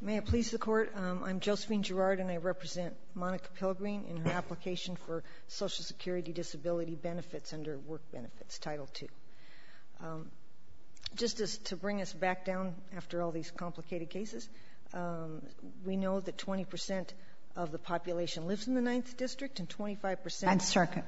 May it please the Court, I'm Josephine Girard and I represent Monica Pilgreen in her application for Social Security Disability Benefits under Work Benefits, Title II. Just to bring us back down after all these complicated cases, we know that 20% of the population lives in the 9th District and 25%… And circuit.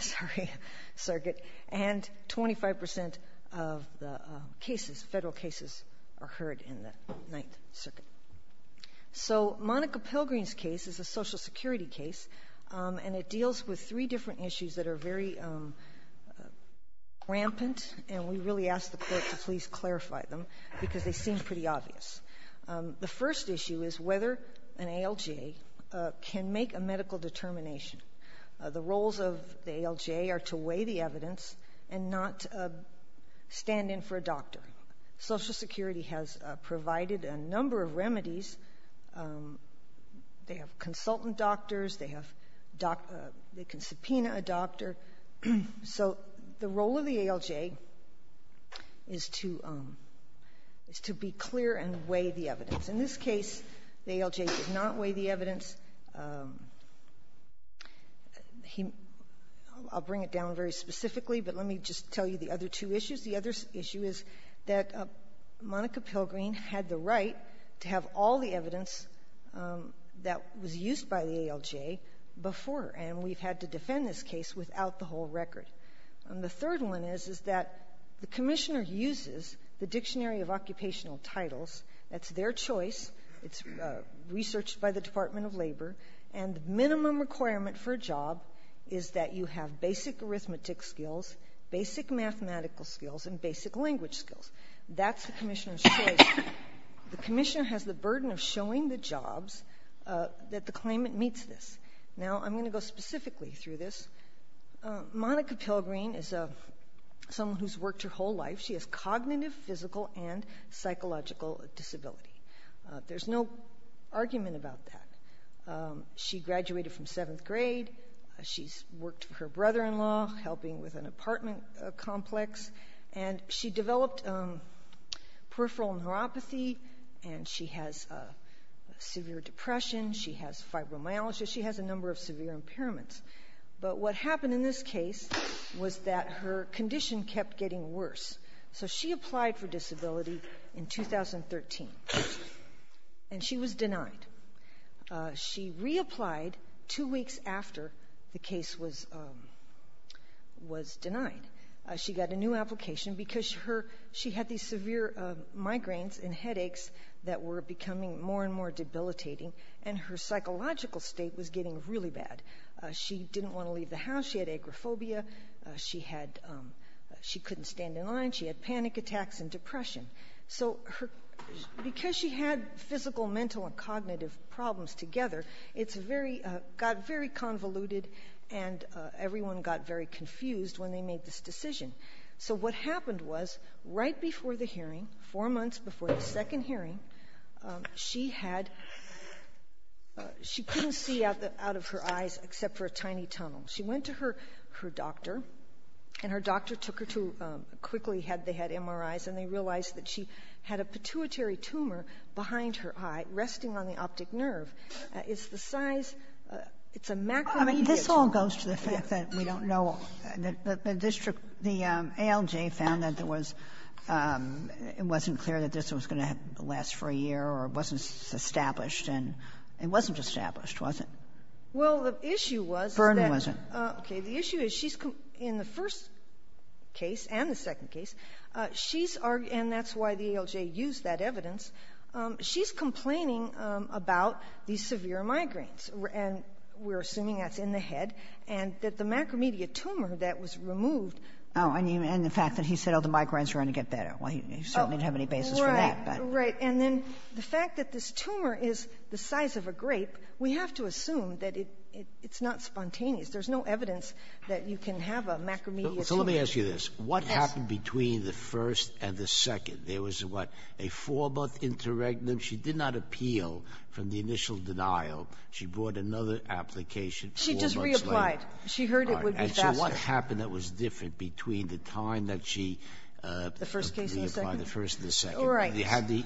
Sorry, circuit. And 25% of the cases, federal cases, are heard in the 9th Circuit. So Monica Pilgreen's case is a Social Security case and it deals with three different issues that are very rampant and we really ask the Court to please clarify them because they seem pretty obvious. The first issue is whether an ALJ can make a medical determination. The roles of the ALJ are to weigh the evidence and not stand in for a doctor. Social Security has provided a number of remedies. They have consultant doctors, they can subpoena a doctor. So the role of the ALJ is to be clear and weigh the evidence. In this case, the ALJ did not weigh the evidence. I'll bring it down very specifically, but let me just tell you the other two issues. The other issue is that Monica Pilgreen had the right to have all the evidence that was used by the ALJ before and we've had to defend this case without the whole record. The third one is that the Commissioner uses the Dictionary of Occupational Titles, that's their choice, it's researched by the Department of Labor, and the minimum requirement for a job is that you have basic arithmetic skills, basic mathematical skills, and basic language skills. That's the Commissioner's choice. The Commissioner has the burden of showing the jobs that the claimant meets this. Now I'm going to go specifically through this. Monica Pilgreen is someone who's worked her whole life. She has cognitive, physical, and psychological disability. There's no argument about that. She graduated from seventh grade, she's worked for her brother-in-law, helping with an apartment complex, and she developed peripheral neuropathy, and she has severe depression, she has fibromyalgia, she has a number of severe impairments. But what happened in this case was that her condition kept getting worse. So she applied for disability in 2013, and she was denied. She reapplied two weeks after the case was denied. She got a new application because she had these severe migraines and headaches that were becoming more and more debilitating, and her psychological state was getting really bad. She didn't want to leave the house, she had agoraphobia, she couldn't stand in line, she had panic attacks and depression. So because she had physical, mental, and cognitive problems together, it got very convoluted, and everyone got very confused when they made this decision. So what happened was, right before the hearing, four months before the second hearing, she couldn't see out of her eyes except for a tiny tunnel. She went to her doctor, and her doctor took her to quickly, had they had MRIs, and they realized that she had a pituitary tumor behind her eye resting on the optic nerve. It's the size, it's a macromedia tumor. Kagan. Sotomayor, this all goes to the fact that we don't know, the district, the ALJ found that there was – it wasn't clear that this was going to last for a year, or it wasn't established, and it wasn't established, was it? Well, the issue was that – Vernon wasn't. Okay, the issue is she's – in the first case and the second case, she's – and that's why the ALJ used that evidence – she's complaining about these severe migraines, and we're assuming that's in the head, and that the macromedia tumor that was removed – Oh, and the fact that he said, oh, the migraines are going to get better. Well, he certainly didn't have any basis for that, but – Right, and then the fact that this tumor is the size of a grape, we have to assume that it's not spontaneous. There's no evidence that you can have a macromedia tumor. So let me ask you this. What happened between the first and the second? There was, what, a four-month interregnum? She did not appeal from the initial denial. She brought another application four months later. She just reapplied. She heard it would be faster. All right, and so what happened that was different between the time that she – The first and the second. All right. She had the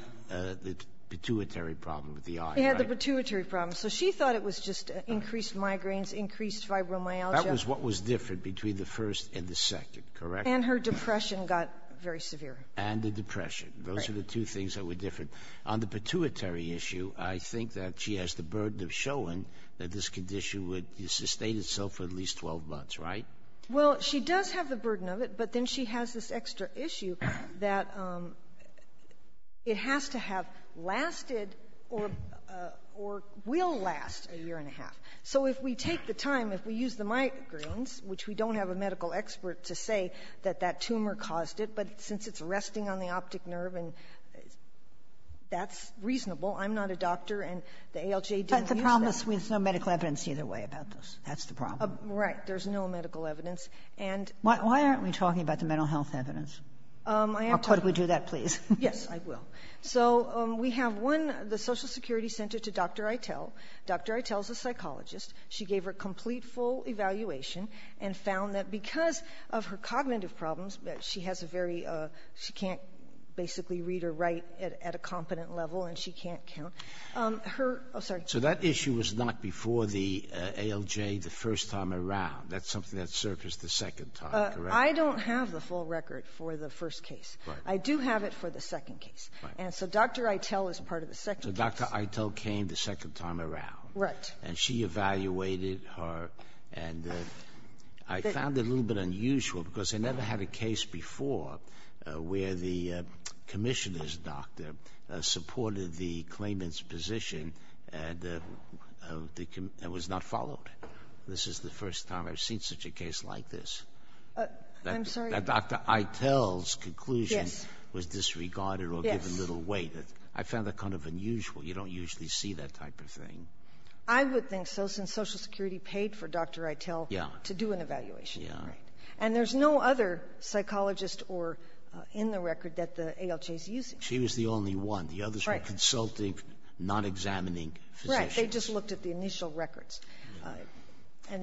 pituitary problem with the eye, right? She had the pituitary problem. So she thought it was just increased migraines, increased fibromyalgia. That was what was different between the first and the second, correct? And her depression got very severe. And the depression. Those are the two things that were different. On the pituitary issue, I think that she has the burden of showing that this condition would sustain itself for at least 12 months, right? Well, she does have the burden of it, but then she has this extra issue that it has to have lasted or will last a year and a half. So if we take the time, if we use the migraines, which we don't have a medical expert to say that that tumor caused it, but since it's resting on the optic nerve and that's reasonable, I'm not a doctor, and the ALJ didn't use that. But the problem is there's no medical evidence either way about this. That's the problem. Right. There's no medical evidence. Why aren't we talking about the mental health evidence? How could we do that, please? Yes, I will. So we have one, the Social Security Center to Dr. Eitel. Dr. Eitel is a psychologist. She gave her complete full evaluation and found that because of her cognitive problems, she has a very, she can't basically read or write at a competent level and she can't count. So that issue was not before the ALJ the first time around. That's something that surfaced the second time, correct? I don't have the full record for the first case. I do have it for the second case. And so Dr. Eitel is part of the second case. So Dr. Eitel came the second time around. Right. And she evaluated her and I found it a little bit unusual because they never had a case before where the commissioner's doctor supported the claimant's position and was not followed. This is the first time I've seen such a case like this. I'm sorry? That Dr. Eitel's conclusion was disregarded or given little weight. I found that kind of unusual. You don't usually see that type of thing. I would think so since Social Security paid for Dr. Eitel to do an evaluation. And there's no other psychologist in the record that the ALJ is using. She was the only one. The others were consulting, not examining physicians. Right. They just looked at the initial records.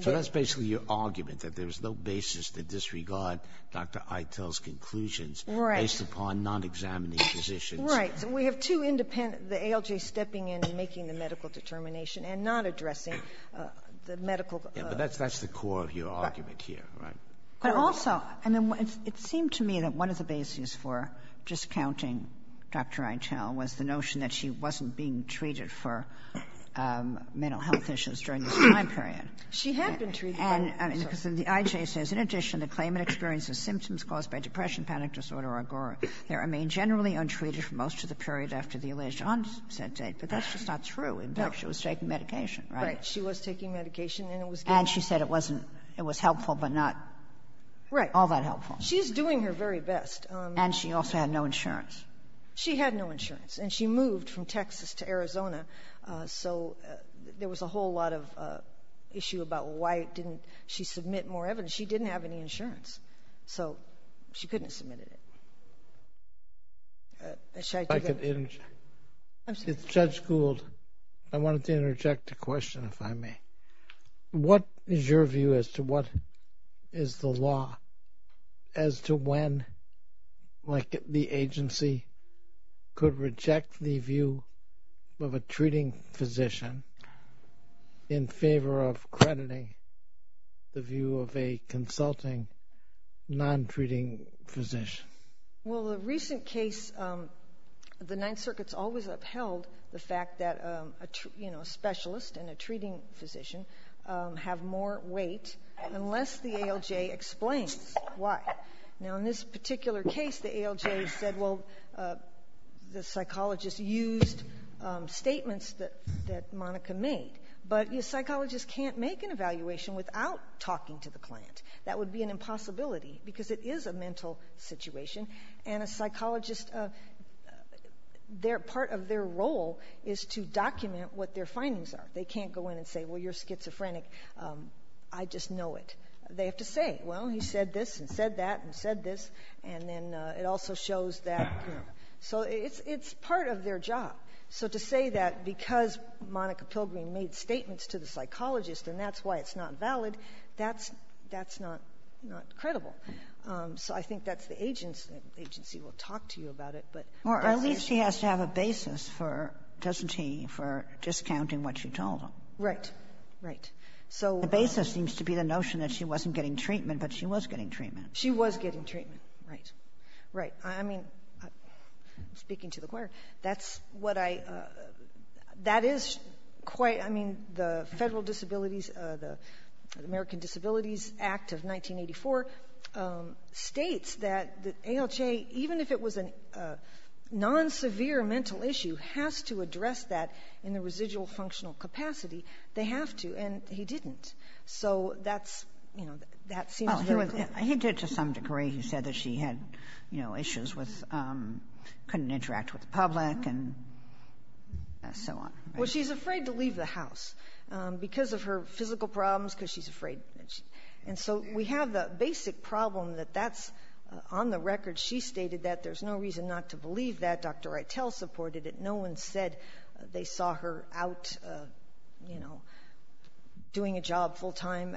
So that's basically your argument, that there was no basis to disregard Dr. Eitel's conclusions based upon not examining physicians. Right. So we have two independent, the ALJ stepping in and making the medical determination and not addressing the medical... But also, it seemed to me that one of the basis for discounting Dr. Eitel was the notion that she wasn't being treated for mental health issues during this time period. She had been treated. And the IJ says, in addition, the claimant experiences symptoms caused by depression, panic disorder, or agora. They remain generally untreated for most of the period after the alleged onset date. But that's just not true. In fact, she was taking medication, right? Right. She was taking medication and it was... Right. All that helpful. She's doing her very best. And she also had no insurance. She had no insurance. And she moved from Texas to Arizona. So there was a whole lot of issue about why didn't she submit more evidence. She didn't have any insurance. So she couldn't have submitted it. If Judge Gould... I wanted to interject a question, if I may. What is your view as to what is the law as to when the agency could reject the view of a treating physician in favor of crediting the view of a consulting non-treating physician? Well, the recent case, the Ninth Circuit's always upheld the fact that a specialist and a treating physician have more weight unless the ALJ explains why. Now, in this particular case, the ALJ said, well, the psychologist used statements that Monica made. But a psychologist can't make an evaluation without talking to the client. That would be an impossibility because it is a mental situation. And a psychologist, part of their role is to document what their client said. They can't go in and say, well, you're schizophrenic. I just know it. They have to say, well, he said this and said that and said this. And then it also shows that you know. So it's part of their job. So to say that because Monica Pilgrim made statements to the psychologist and that's why it's not valid, that's not credible. So I think that's the agency will talk to you about it. Or at least he has to have a basis for, doesn't he, for discounting what you told him. Right. Right. The basis seems to be the notion that she wasn't getting treatment, but she was getting treatment. She was getting treatment. Right. Right. I mean, speaking to the court, that's what I, that is quite, I mean, the Federal Disabilities, the American Disabilities Act of 1984 states that ALJ, even if it was a non-severe mental issue, has to address that in the residual functional capacity. They have to. And he didn't. So that's, you know, that seems very clear. He did to some degree. He said that she had, you know, issues with, couldn't interact with the public and so on. Well, she's afraid to leave the house because of her physical problems, because she's afraid. And so we have the basic problem that that's on the record. She stated that there's no reason not to believe that. Dr. Rytel supported it. No one said they saw her out, you know, doing a job full time.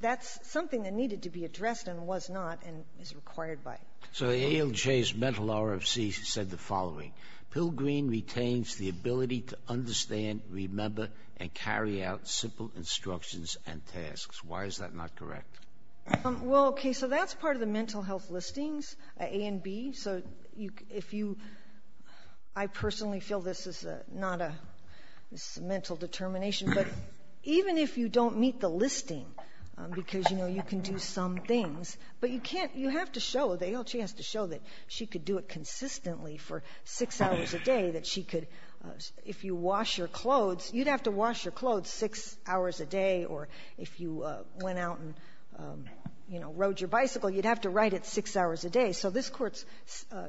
That's something that needed to be addressed and was not and is required by. So ALJ's mental RFC said the following. Pilgrim retains the ability to understand, remember, and carry out simple instructions and tasks. Why is that not correct? Well, okay. So that's part of the mental health listings, A and B. So if you, I personally feel this is not a, this is a mental determination. But even if you don't meet the listing, because you know, you can do some things, but you can't, you have to show, the ALJ has to show that she could do it consistently for six hours a day, that she could, if you wash your clothes, you'd have to wash your clothes six hours a day. Or if you went out and, you know, rode your bicycle, you'd have to ride it six hours a day. So this court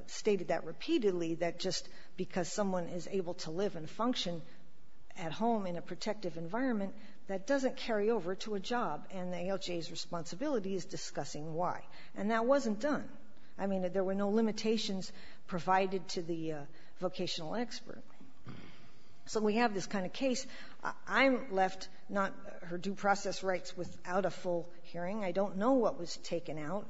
stated that repeatedly, that just because someone is able to live and function at home in a protective environment, that doesn't carry over to a job. And the ALJ's provided to the vocational expert. So we have this kind of case. I'm left not, her due process writes, without a full hearing. I don't know what was taken out,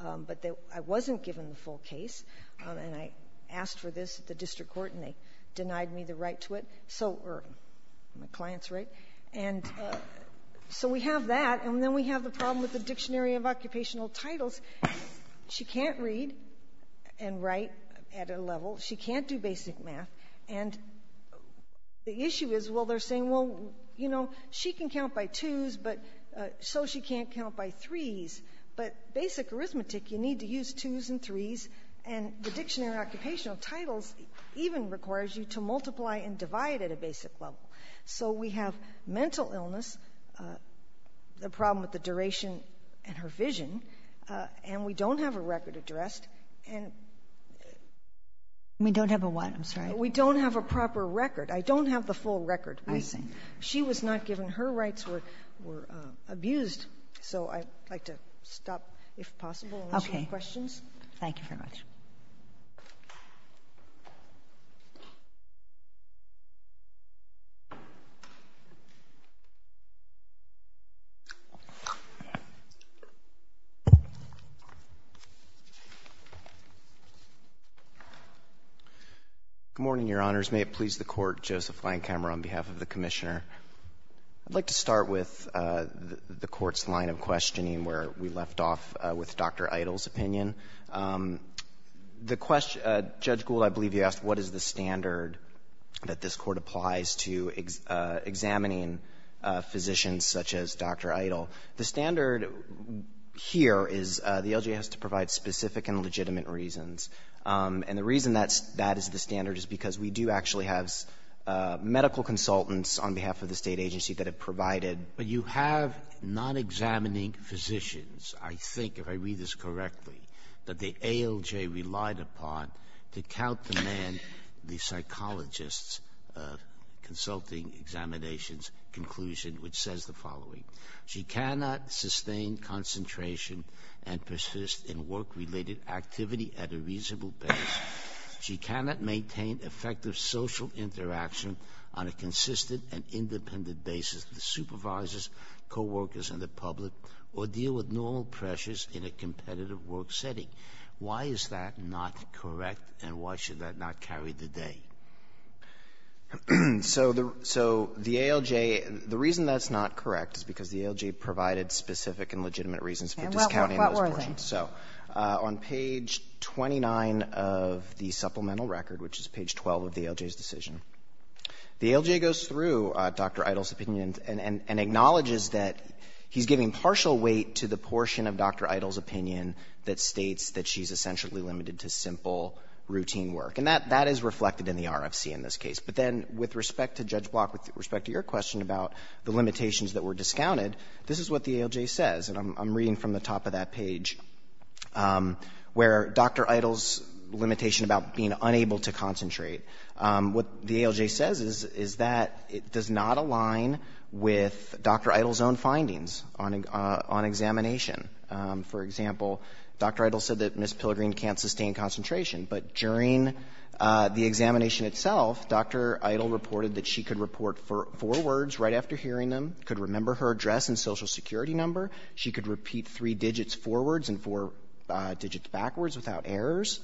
but I wasn't given the full case, and I asked for this at the district court, and they denied me the right to it. So, or my client's right. And so we have that, and then we have the problem with the Dictionary of Occupational Titles. She can't read and write at a level. She can't do basic math. And the issue is, well, they're saying, well, you know, she can count by twos, but so she can't count by threes. But basic arithmetic, you need to use twos and threes, and the Dictionary of Occupational Titles even requires you to multiply and divide at a basic level. So we have mental illness, the problem with the duration and her vision, and we don't have a record addressed. We don't have a what? I'm sorry. We don't have a proper record. I don't have the full record. I see. She was not given her rights. We're abused. So I'd like to stop, if possible, and answer your questions. Okay. Thank you very much. Good morning, Your Honors. May it please the Court, Joseph Landkamer on behalf of the Commissioner. I'd like to start with the Court's line of questioning, where we left off with Dr. Idle's opinion. The question — Judge Gould, I believe you asked, what is the standard that this Court applies to examining physicians such as Dr. Idle? The standard here is the ALJ has to provide specific and legitimate reasons. And the reason that is the standard is because we do actually have medical consultants on behalf of the State agency that have provided — But you have non-examining physicians, I think, if I read this correctly, that the consulting examination's conclusion, which says the following. She cannot sustain concentration and persist in work-related activity at a reasonable pace. She cannot maintain effective social interaction on a consistent and independent basis with supervisors, coworkers, and the public, or deal with normal pressures in a competitive work setting. Why is that not correct, and why should that not carry the day? So the ALJ — the reason that's not correct is because the ALJ provided specific and legitimate reasons for discounting those portions. And what were they? So on page 29 of the supplemental record, which is page 12 of the ALJ's decision, the ALJ goes through Dr. Idle's opinion and acknowledges that he's giving partial weight to the portion of Dr. Idle's opinion that states that she's essentially limited to simple routine work. And that is reflected in the RFC in this case. But then with respect to Judge Block, with respect to your question about the limitations that were discounted, this is what the ALJ says, and I'm reading from the top of that page, where Dr. Idle's limitation about being unable to concentrate, what the ALJ says is that it does not align with Dr. Idle's own findings on examination. For example, Dr. Idle said that Ms. Pilgrim can't sustain concentration. But during the examination itself, Dr. Idle reported that she could report four words right after hearing them, could remember her address and Social Security number. She could repeat three digits forwards and four digits backwards without errors.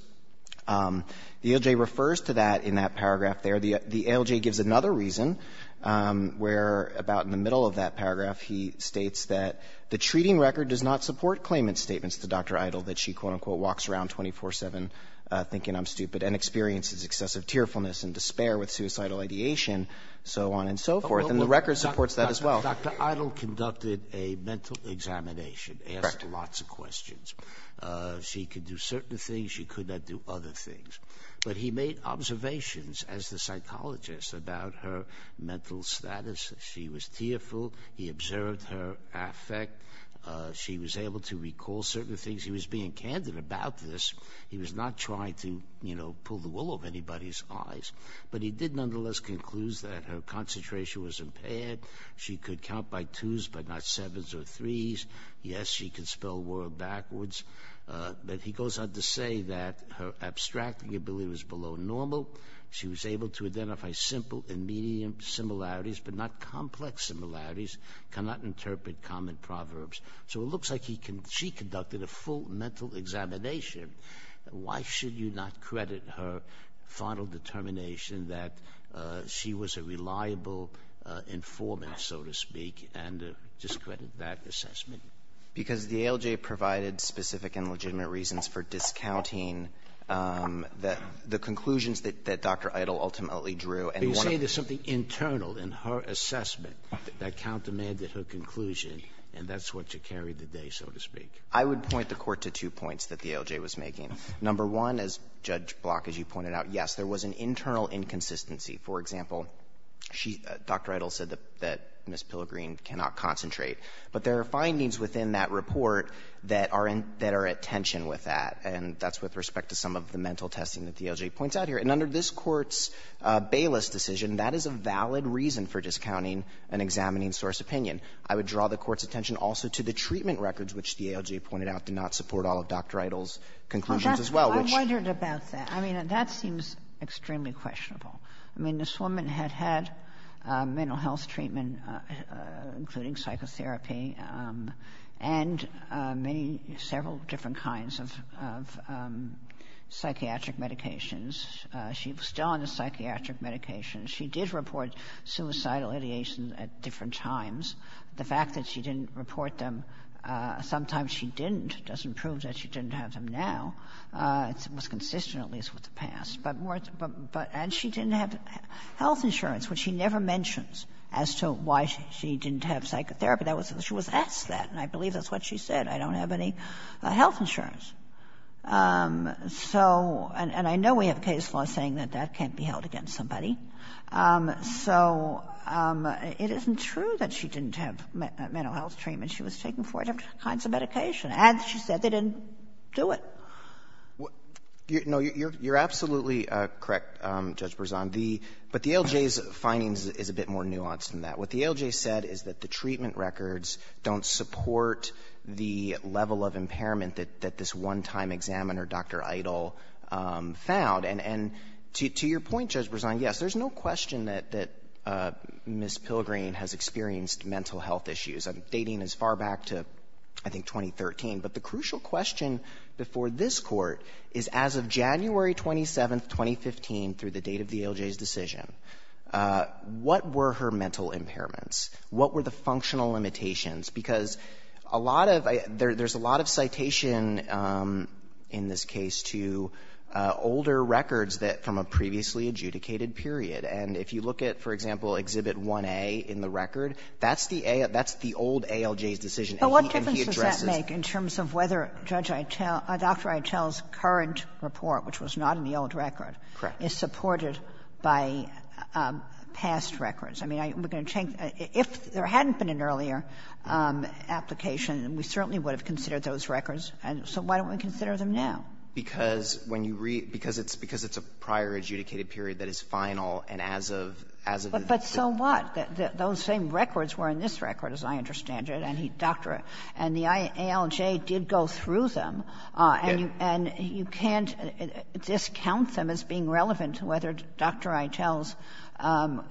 The ALJ refers to that in that paragraph there. The ALJ gives another reason, where about in the middle of that paragraph he states that the treating record does not support claimant's statements to Dr. Idle that she, quote, unquote, walks around 24-7 thinking I'm stupid and experiences excessive tearfulness and despair with suicidal ideation, so on and so forth. And the record supports that as well. Dr. Idle conducted a mental examination, asked lots of questions. She could do certain things. She could not do other things. But he made observations as the psychologist about her mental status. She was tearful. He observed her affect. She was able to recall certain things. He was being candid about this. He was not trying to, you know, pull the wool over anybody's eyes. But he did nonetheless conclude that her concentration was impaired. She could count by twos, but not sevens or threes. Yes, she could spell a word backwards. But he goes on to say that her abstracting ability was below normal. She was able to identify simple and medium similarities, but not complex similarities, cannot interpret common proverbs. So it looks like she conducted a full mental examination. Why should you not credit her final determination that she was a reliable informant, so to speak, and discredit that assessment? Because the ALJ provided specific and legitimate reasons for discounting the conclusions that Dr. Idle ultimately drew. But you say there's something internal in her assessment that countermanded her conclusion, and that's what you carried the day, so to speak. I would point the Court to two points that the ALJ was making. Number one, as Judge Block, as you pointed out, yes, there was an internal inconsistency. For example, Dr. Idle said that Ms. Pilgrim cannot concentrate. But there are findings within that report that are at tension with that, and that's with respect to some of the mental testing that the ALJ points out here. And under this Court's Bayless decision, that is a valid reason for discounting an examining source opinion. I would draw the Court's attention also to the treatment records, which the ALJ pointed out did not support all of Dr. Idle's conclusions as well, which — Sotomayor, I wondered about that. I mean, that seems extremely questionable. I mean, this woman had had mental health treatment, including psychotherapy, and many several different kinds of psychiatric medications. She was still on the psychiatric medications. She did report suicidal ideations at different times. The fact that she didn't report them, sometimes she didn't, doesn't prove that she didn't have them now. It was consistent, at least, with the past. But more — but — and she didn't have health insurance, which she never mentions as to why she didn't have psychotherapy. That was — she was asked that, and I believe that's what she said. I don't have any health insurance. So — and I know we have case law saying that that can't be held against somebody. So it isn't true that she didn't have mental health treatment. She was taking four different kinds of medication. And she said they didn't do it. No, you're absolutely correct, Judge Berzon. The — but the ALJ's findings is a bit more nuanced than that. What the ALJ said is that the treatment records don't support the level of impairment that this one-time examiner, Dr. Eidel, found. And to your point, Judge Berzon, yes, there's no question that Ms. Pilgrim has experienced mental health issues. I'm dating as far back to, I think, 2013. But the crucial question before this Court is, as of January 27th, 2015, through the date of the ALJ's decision, what were her mental impairments? What were the functional limitations? Because a lot of — there's a lot of citation in this case to older records that — from a previously adjudicated period. And if you look at, for example, Exhibit 1A in the record, that's the — that's the old ALJ's decision. And he addresses — But what difference does that make in terms of whether Judge Eitel — Dr. Eitel's current report, which was not in the old record, is supported by past records? I mean, I — we're going to change — if there hadn't been an earlier application, we certainly would have considered those records. And so why don't we consider them now? Because when you read — because it's a prior adjudicated period that is final and as of — as of the — But so what? Those same records were in this record, as I understand it. And he — Dr. — and the ALJ did go through them. And you can't discount them as being relevant to whether Dr. Eitel's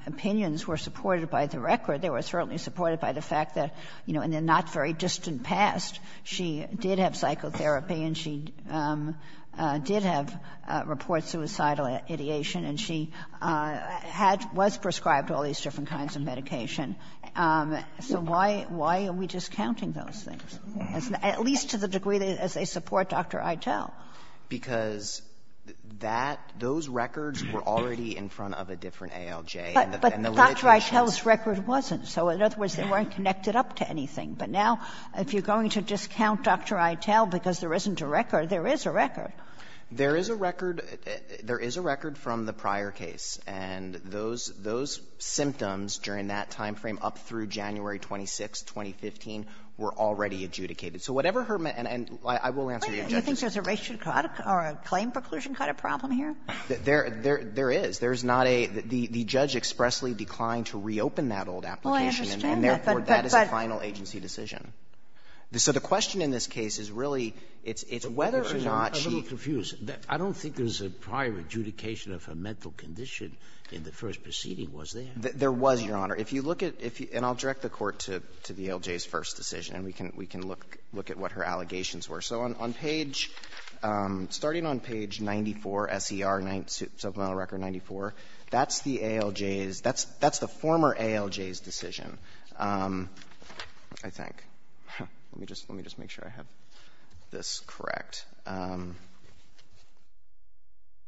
opinions were supported by the record. They were certainly supported by the fact that, you know, in the not very distant past, she did have psychotherapy and she did have report suicidal ideation, and she had — was prescribed all these different kinds of medication. So why — why are we discounting those things? At least to the degree as they support Dr. Eitel. Because that — those records were already in front of a different ALJ. But Dr. Eitel's record wasn't. So in other words, they weren't connected up to anything. But now, if you're going to discount Dr. Eitel because there isn't a record, there is a record. There is a record. There is a record from the prior case. And those — those symptoms during that time frame up through January 26, 2015, were already adjudicated. So whatever her — and I will answer the objection. Do you think there's a racial or a claim preclusion kind of problem here? There is. There is not a — the judge expressly declined to reopen that old application. And therefore, that is a final agency decision. So the question in this case is really, it's whether or not she — Sotomayor, I'm a little confused. I don't think there's a prior adjudication of her mental condition in the first proceeding, was there? There was, Your Honor. If you look at — and I'll direct the Court to the ALJ's first decision, and we can look at what her allegations were. So on page — starting on page 94, S.E.R., Ninth Supreme Court record 94, that's the ALJ's — that's the former ALJ's decision, I think. Let me just — let me just make sure I have this correct.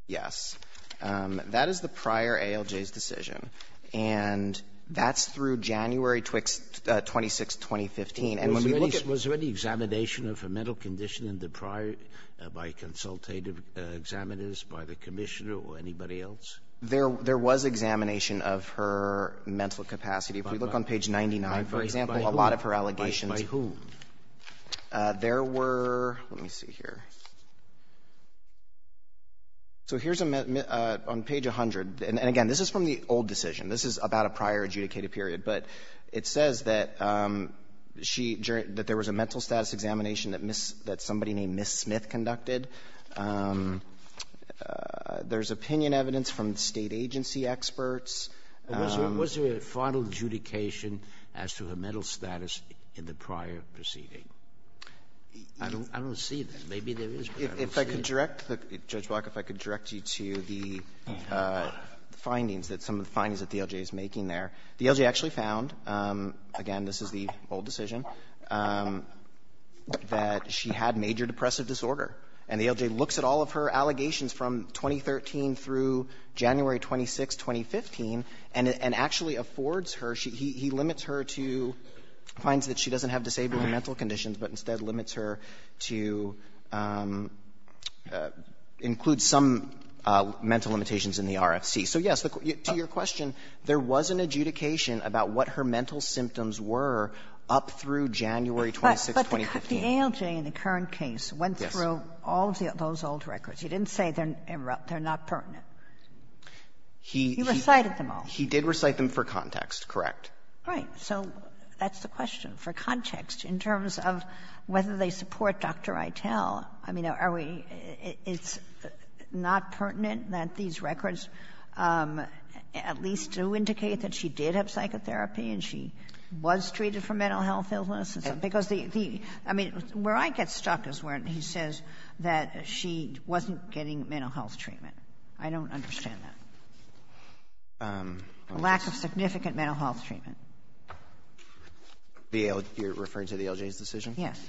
Yes. That is the prior ALJ's decision. And that's through January 26, 2015. And when we look at — Was there any examination of her mental condition in the prior — by consultative examiners, by the commissioner, or anybody else? There was examination of her mental capacity. If we look on page 99, for example, a lot of her allegations — By whom? There were — let me see here. So here's a — on page 100, and again, this is from the old decision. This is about a prior adjudicated period. But it says that she — that there was a mental status examination that Miss — that somebody named Miss Smith conducted. There's opinion evidence from State agency experts. Was there a final adjudication as to her mental status in the prior proceeding? I don't see that. Maybe there is, but I don't see it. If I could direct the — Judge Block, if I could direct you to the findings that — some of the findings that the LJ is making there. The LJ actually found — again, this is the old decision — that she had major depressive disorder. And the LJ looks at all of her allegations from 2013 through January 26, 2015, and actually affords her — he limits her to — finds that she doesn't have disabling mental conditions, but instead limits her to include some mental limitations in the RFC. So, yes, to your question, there was an adjudication about what her mental symptoms were up through January 26, 2015. Kagan. But the LJ in the current case went through all of those old records. He didn't say they're not pertinent. He recited them all. He did recite them for context, correct. Right. So that's the question. For context, in terms of whether they support Dr. Itell, I mean, are we — it's not pertinent that these records at least do indicate that she did have psychotherapy and she was treated for mental health illness? Because the — I mean, where I get stuck is where he says that she wasn't getting mental health treatment. I don't understand that. Lack of significant mental health treatment. You're referring to the LJ's decision? Yes.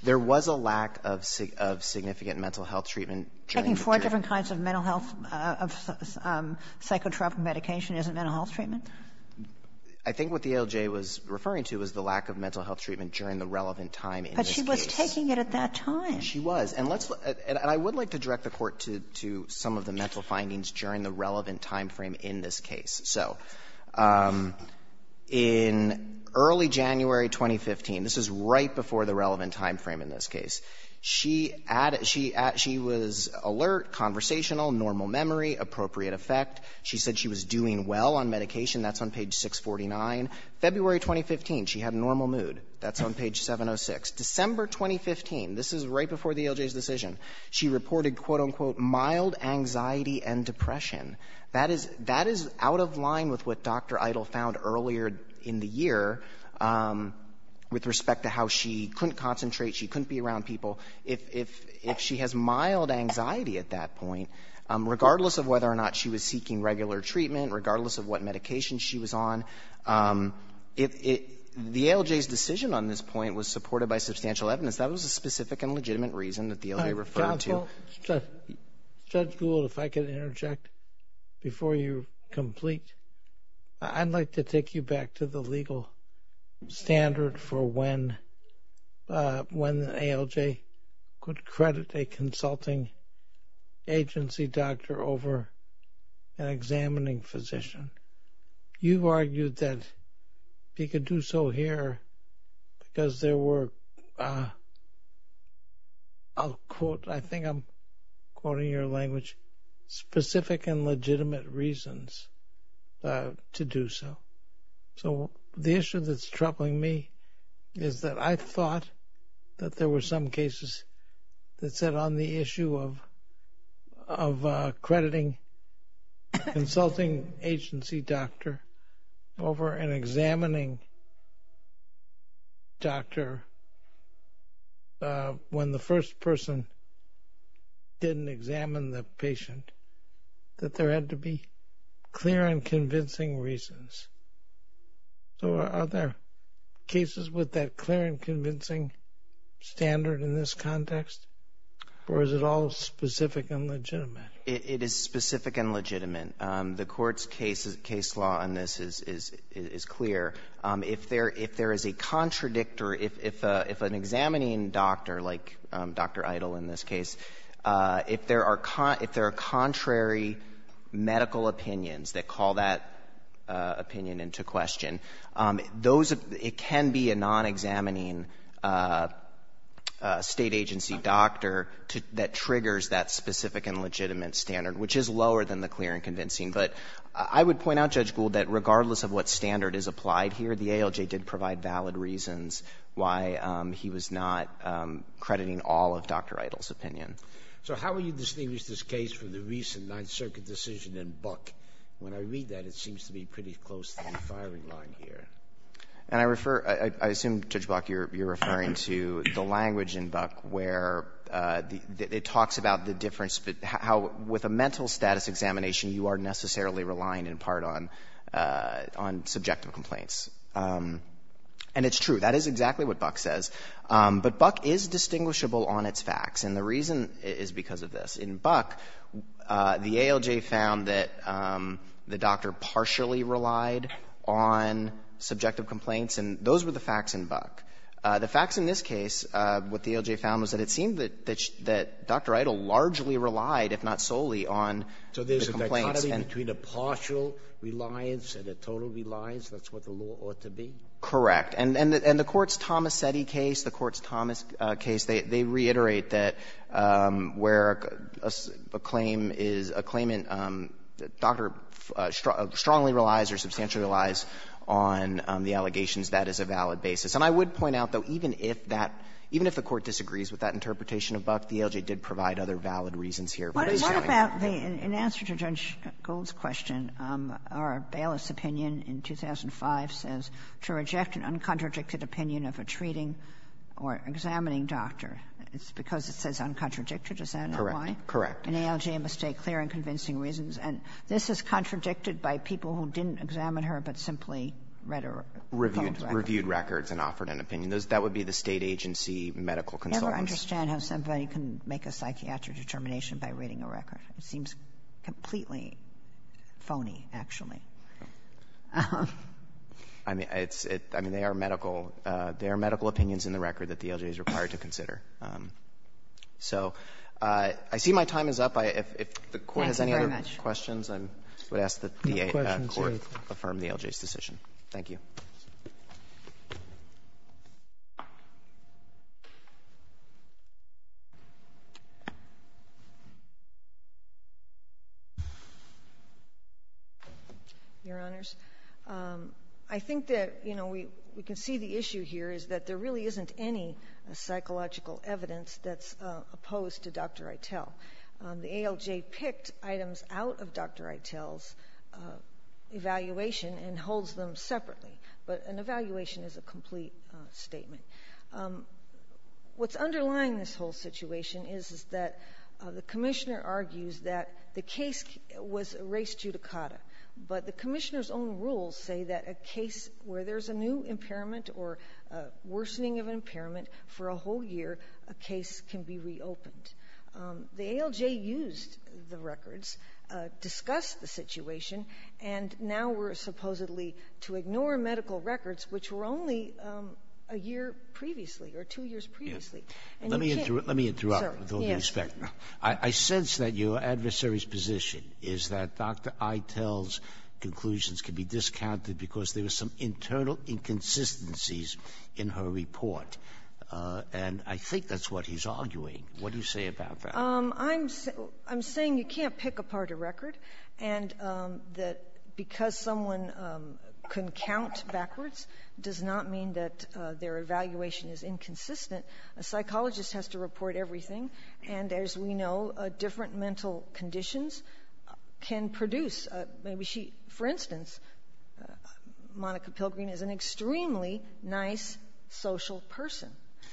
There was a lack of significant mental health treatment during the period. Taking four different kinds of mental health — of psychotropic medication isn't mental health treatment? I think what the LJ was referring to was the lack of mental health treatment during the relevant time in this case. But she was taking it at that time. She was. And let's — and I would like to direct the Court to some of the mental findings during the relevant timeframe in this case. So, in early January 2015, this is right before the relevant timeframe in this case, she added — she was alert, conversational, normal memory, appropriate effect. She said she was doing well on medication. That's on page 649. February 2015, she had a normal mood. That's on page 706. December 2015, this is right before the LJ's decision, she reported, quote, unquote, mild anxiety and depression. That is — that is out of line with what Dr. Idol found earlier in the year with respect to how she couldn't concentrate, she couldn't be around people. If — if she has mild anxiety at that point, regardless of whether or not she was seeking regular treatment, regardless of what medication she was on, if it — the LJ's decision on this point was supported by substantial evidence. That was a specific and legitimate reason that the LJ referred to. Judge Gould, if I could interject before you complete. I'd like to take you back to the legal standard for when — when the ALJ could credit a consulting agency doctor over an examining physician. You argued that he could do so here because there were, I'll quote, I think I'm quoting your language, specific and legitimate reasons to do so. So the issue that's troubling me is that I thought that there were some cases that on the issue of — of crediting consulting agency doctor over an examining doctor when the first person didn't examine the patient, that there had to be clear and convincing reasons. So are there cases with that clear and convincing standard in this context? Or is it all specific and legitimate? It is specific and legitimate. The Court's case law on this is clear. If there is a contradictory — if an examining doctor like Dr. Idle in this case, if there are contrary medical opinions that call that opinion into question, those — it can be a non-examining State agency doctor that triggers that specific and legitimate standard, which is lower than the clear and convincing. But I would point out, Judge Gould, that regardless of what standard is applied here, the ALJ did provide valid reasons why he was not crediting all of Dr. Idle's opinion. So how will you distinguish this case from the recent Ninth Circuit decision in Buck? When I read that, it seems to be pretty close to the firing line here. And I refer — I assume, Judge Block, you're referring to the language in Buck where it talks about the difference — how with a mental status examination, you are necessarily relying in part on subjective complaints. And it's true. That is exactly what Buck says. But Buck is distinguishable on its facts. And the reason is because of this. In Buck, the ALJ found that the doctor partially relied on subjective complaints, and those were the facts in Buck. The facts in this case, what the ALJ found was that it seemed that Dr. Idle largely relied, if not solely, on the complaints. Sotomayor, is there a part of it between a partial reliance and a total reliance? That's what the law ought to be? Correct. And the Court's Tomasetti case, the Court's Thomas case, they reiterate that where a claim is a claimant, the doctor strongly relies or substantially relies on the allegations. That is a valid basis. And I would point out, though, even if that — even if the Court disagrees with that interpretation of Buck, the ALJ did provide other valid reasons here. What about the — in answer to Judge Gold's question, our bailiff's opinion in 2005 says, to reject an uncontradicted opinion of a treating or examining doctor, it's because it says uncontradicted. Is that why? Correct. Correct. An ALJ must state clear and convincing reasons. And this is contradicted by people who didn't examine her but simply read her records. Reviewed records and offered an opinion. That would be the State agency medical consultants. I don't understand how somebody can make a psychiatric determination by reading a record. It seems completely phony, actually. I mean, it's — I mean, they are medical. There are medical opinions in the record that the ALJ is required to consider. So I see my time is up. If the Court has any other questions, I would ask that the Court affirm the ALJ's decision. Thank you. Your Honors, I think that, you know, we can see the issue here is that there really isn't any psychological evidence that's opposed to Dr. Eitel. The ALJ picked items out of Dr. Eitel's evaluation and holds them separately. But an evaluation is a complete statement. What's underlying this whole situation is that the Commissioner argues that the case was erased judicata. But the Commissioner's own rules say that a case where there's a new impairment or a whole year, a case can be reopened. The ALJ used the records, discussed the situation, and now we're supposedly to ignore medical records, which were only a year previously or two years previously. And you can't — Let me interrupt, with all due respect. I sense that your adversary's position is that Dr. Eitel's conclusions can be discounted because there are some internal inconsistencies in her report. And I think that's what he's arguing. What do you say about that? I'm saying you can't pick apart a record and that because someone can count backwards does not mean that their evaluation is inconsistent. A psychologist has to report everything. And as we know, different mental conditions can produce — For instance, Monica Pilgrim is an extremely nice social person.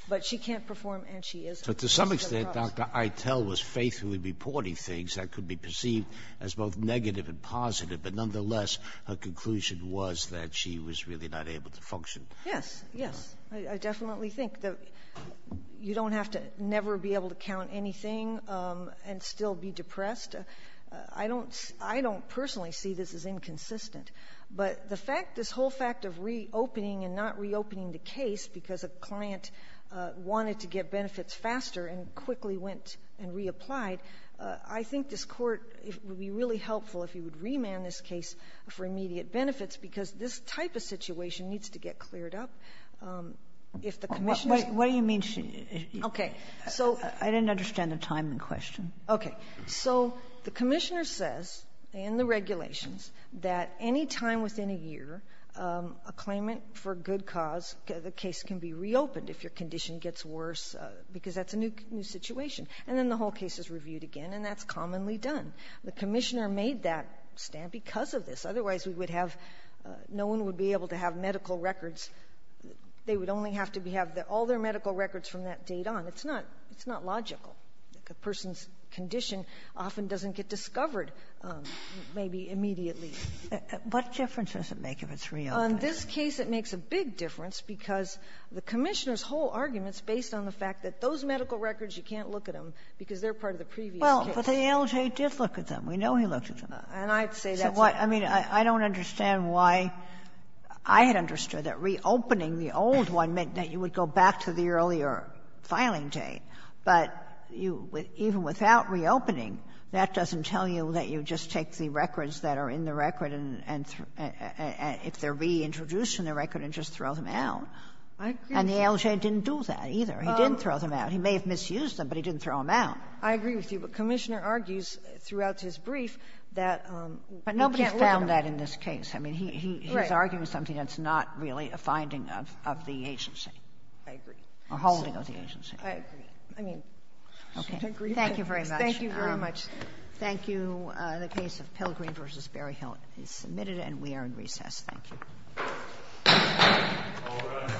But she can't perform and she isn't. But to some extent, Dr. Eitel was faithfully reporting things that could be perceived as both negative and positive. But nonetheless, her conclusion was that she was really not able to function. Yes, yes. I definitely think that you don't have to never be able to count anything and still be depressed. I don't personally see this as inconsistent. But the fact, this whole fact of reopening and not reopening the case because a client wanted to get benefits faster and quickly went and reapplied, I think this Court would be really helpful if you would remand this case for immediate benefits, because this type of situation needs to get cleared up if the commissioners What do you mean? Okay. I didn't understand the timing question. Okay. So the commissioner says in the regulations that any time within a year, a claimant for good cause, the case can be reopened if your condition gets worse, because that's a new situation. And then the whole case is reviewed again, and that's commonly done. The commissioner made that stand because of this. Otherwise, we would have — no one would be able to have medical records. They would only have to have all their medical records from that date on. It's not — it's not logical. A person's condition often doesn't get discovered maybe immediately. What difference does it make if it's reopened? On this case, it makes a big difference because the commissioner's whole argument is based on the fact that those medical records, you can't look at them because they're part of the previous case. Well, but the LJ did look at them. We know he looked at them. And I'd say that's why. I mean, I don't understand why I had understood that reopening the old one meant that you would go back to the earlier filing date, but you — even without reopening, that doesn't tell you that you just take the records that are in the record and — if they're reintroduced in the record, and just throw them out. And the LJ didn't do that, either. He didn't throw them out. He may have misused them, but he didn't throw them out. I agree with you. But the commissioner argues throughout his brief that you can't look at them. But nobody's found that in this case. I mean, he's arguing something that's not really a finding of the agency. I agree. A holding of the agency. I agree. I mean, I agree. Okay. Thank you very much. Thank you very much. Thank you. The case of Pilgrim v. Berryhill is submitted, and we are in recess. Thank you.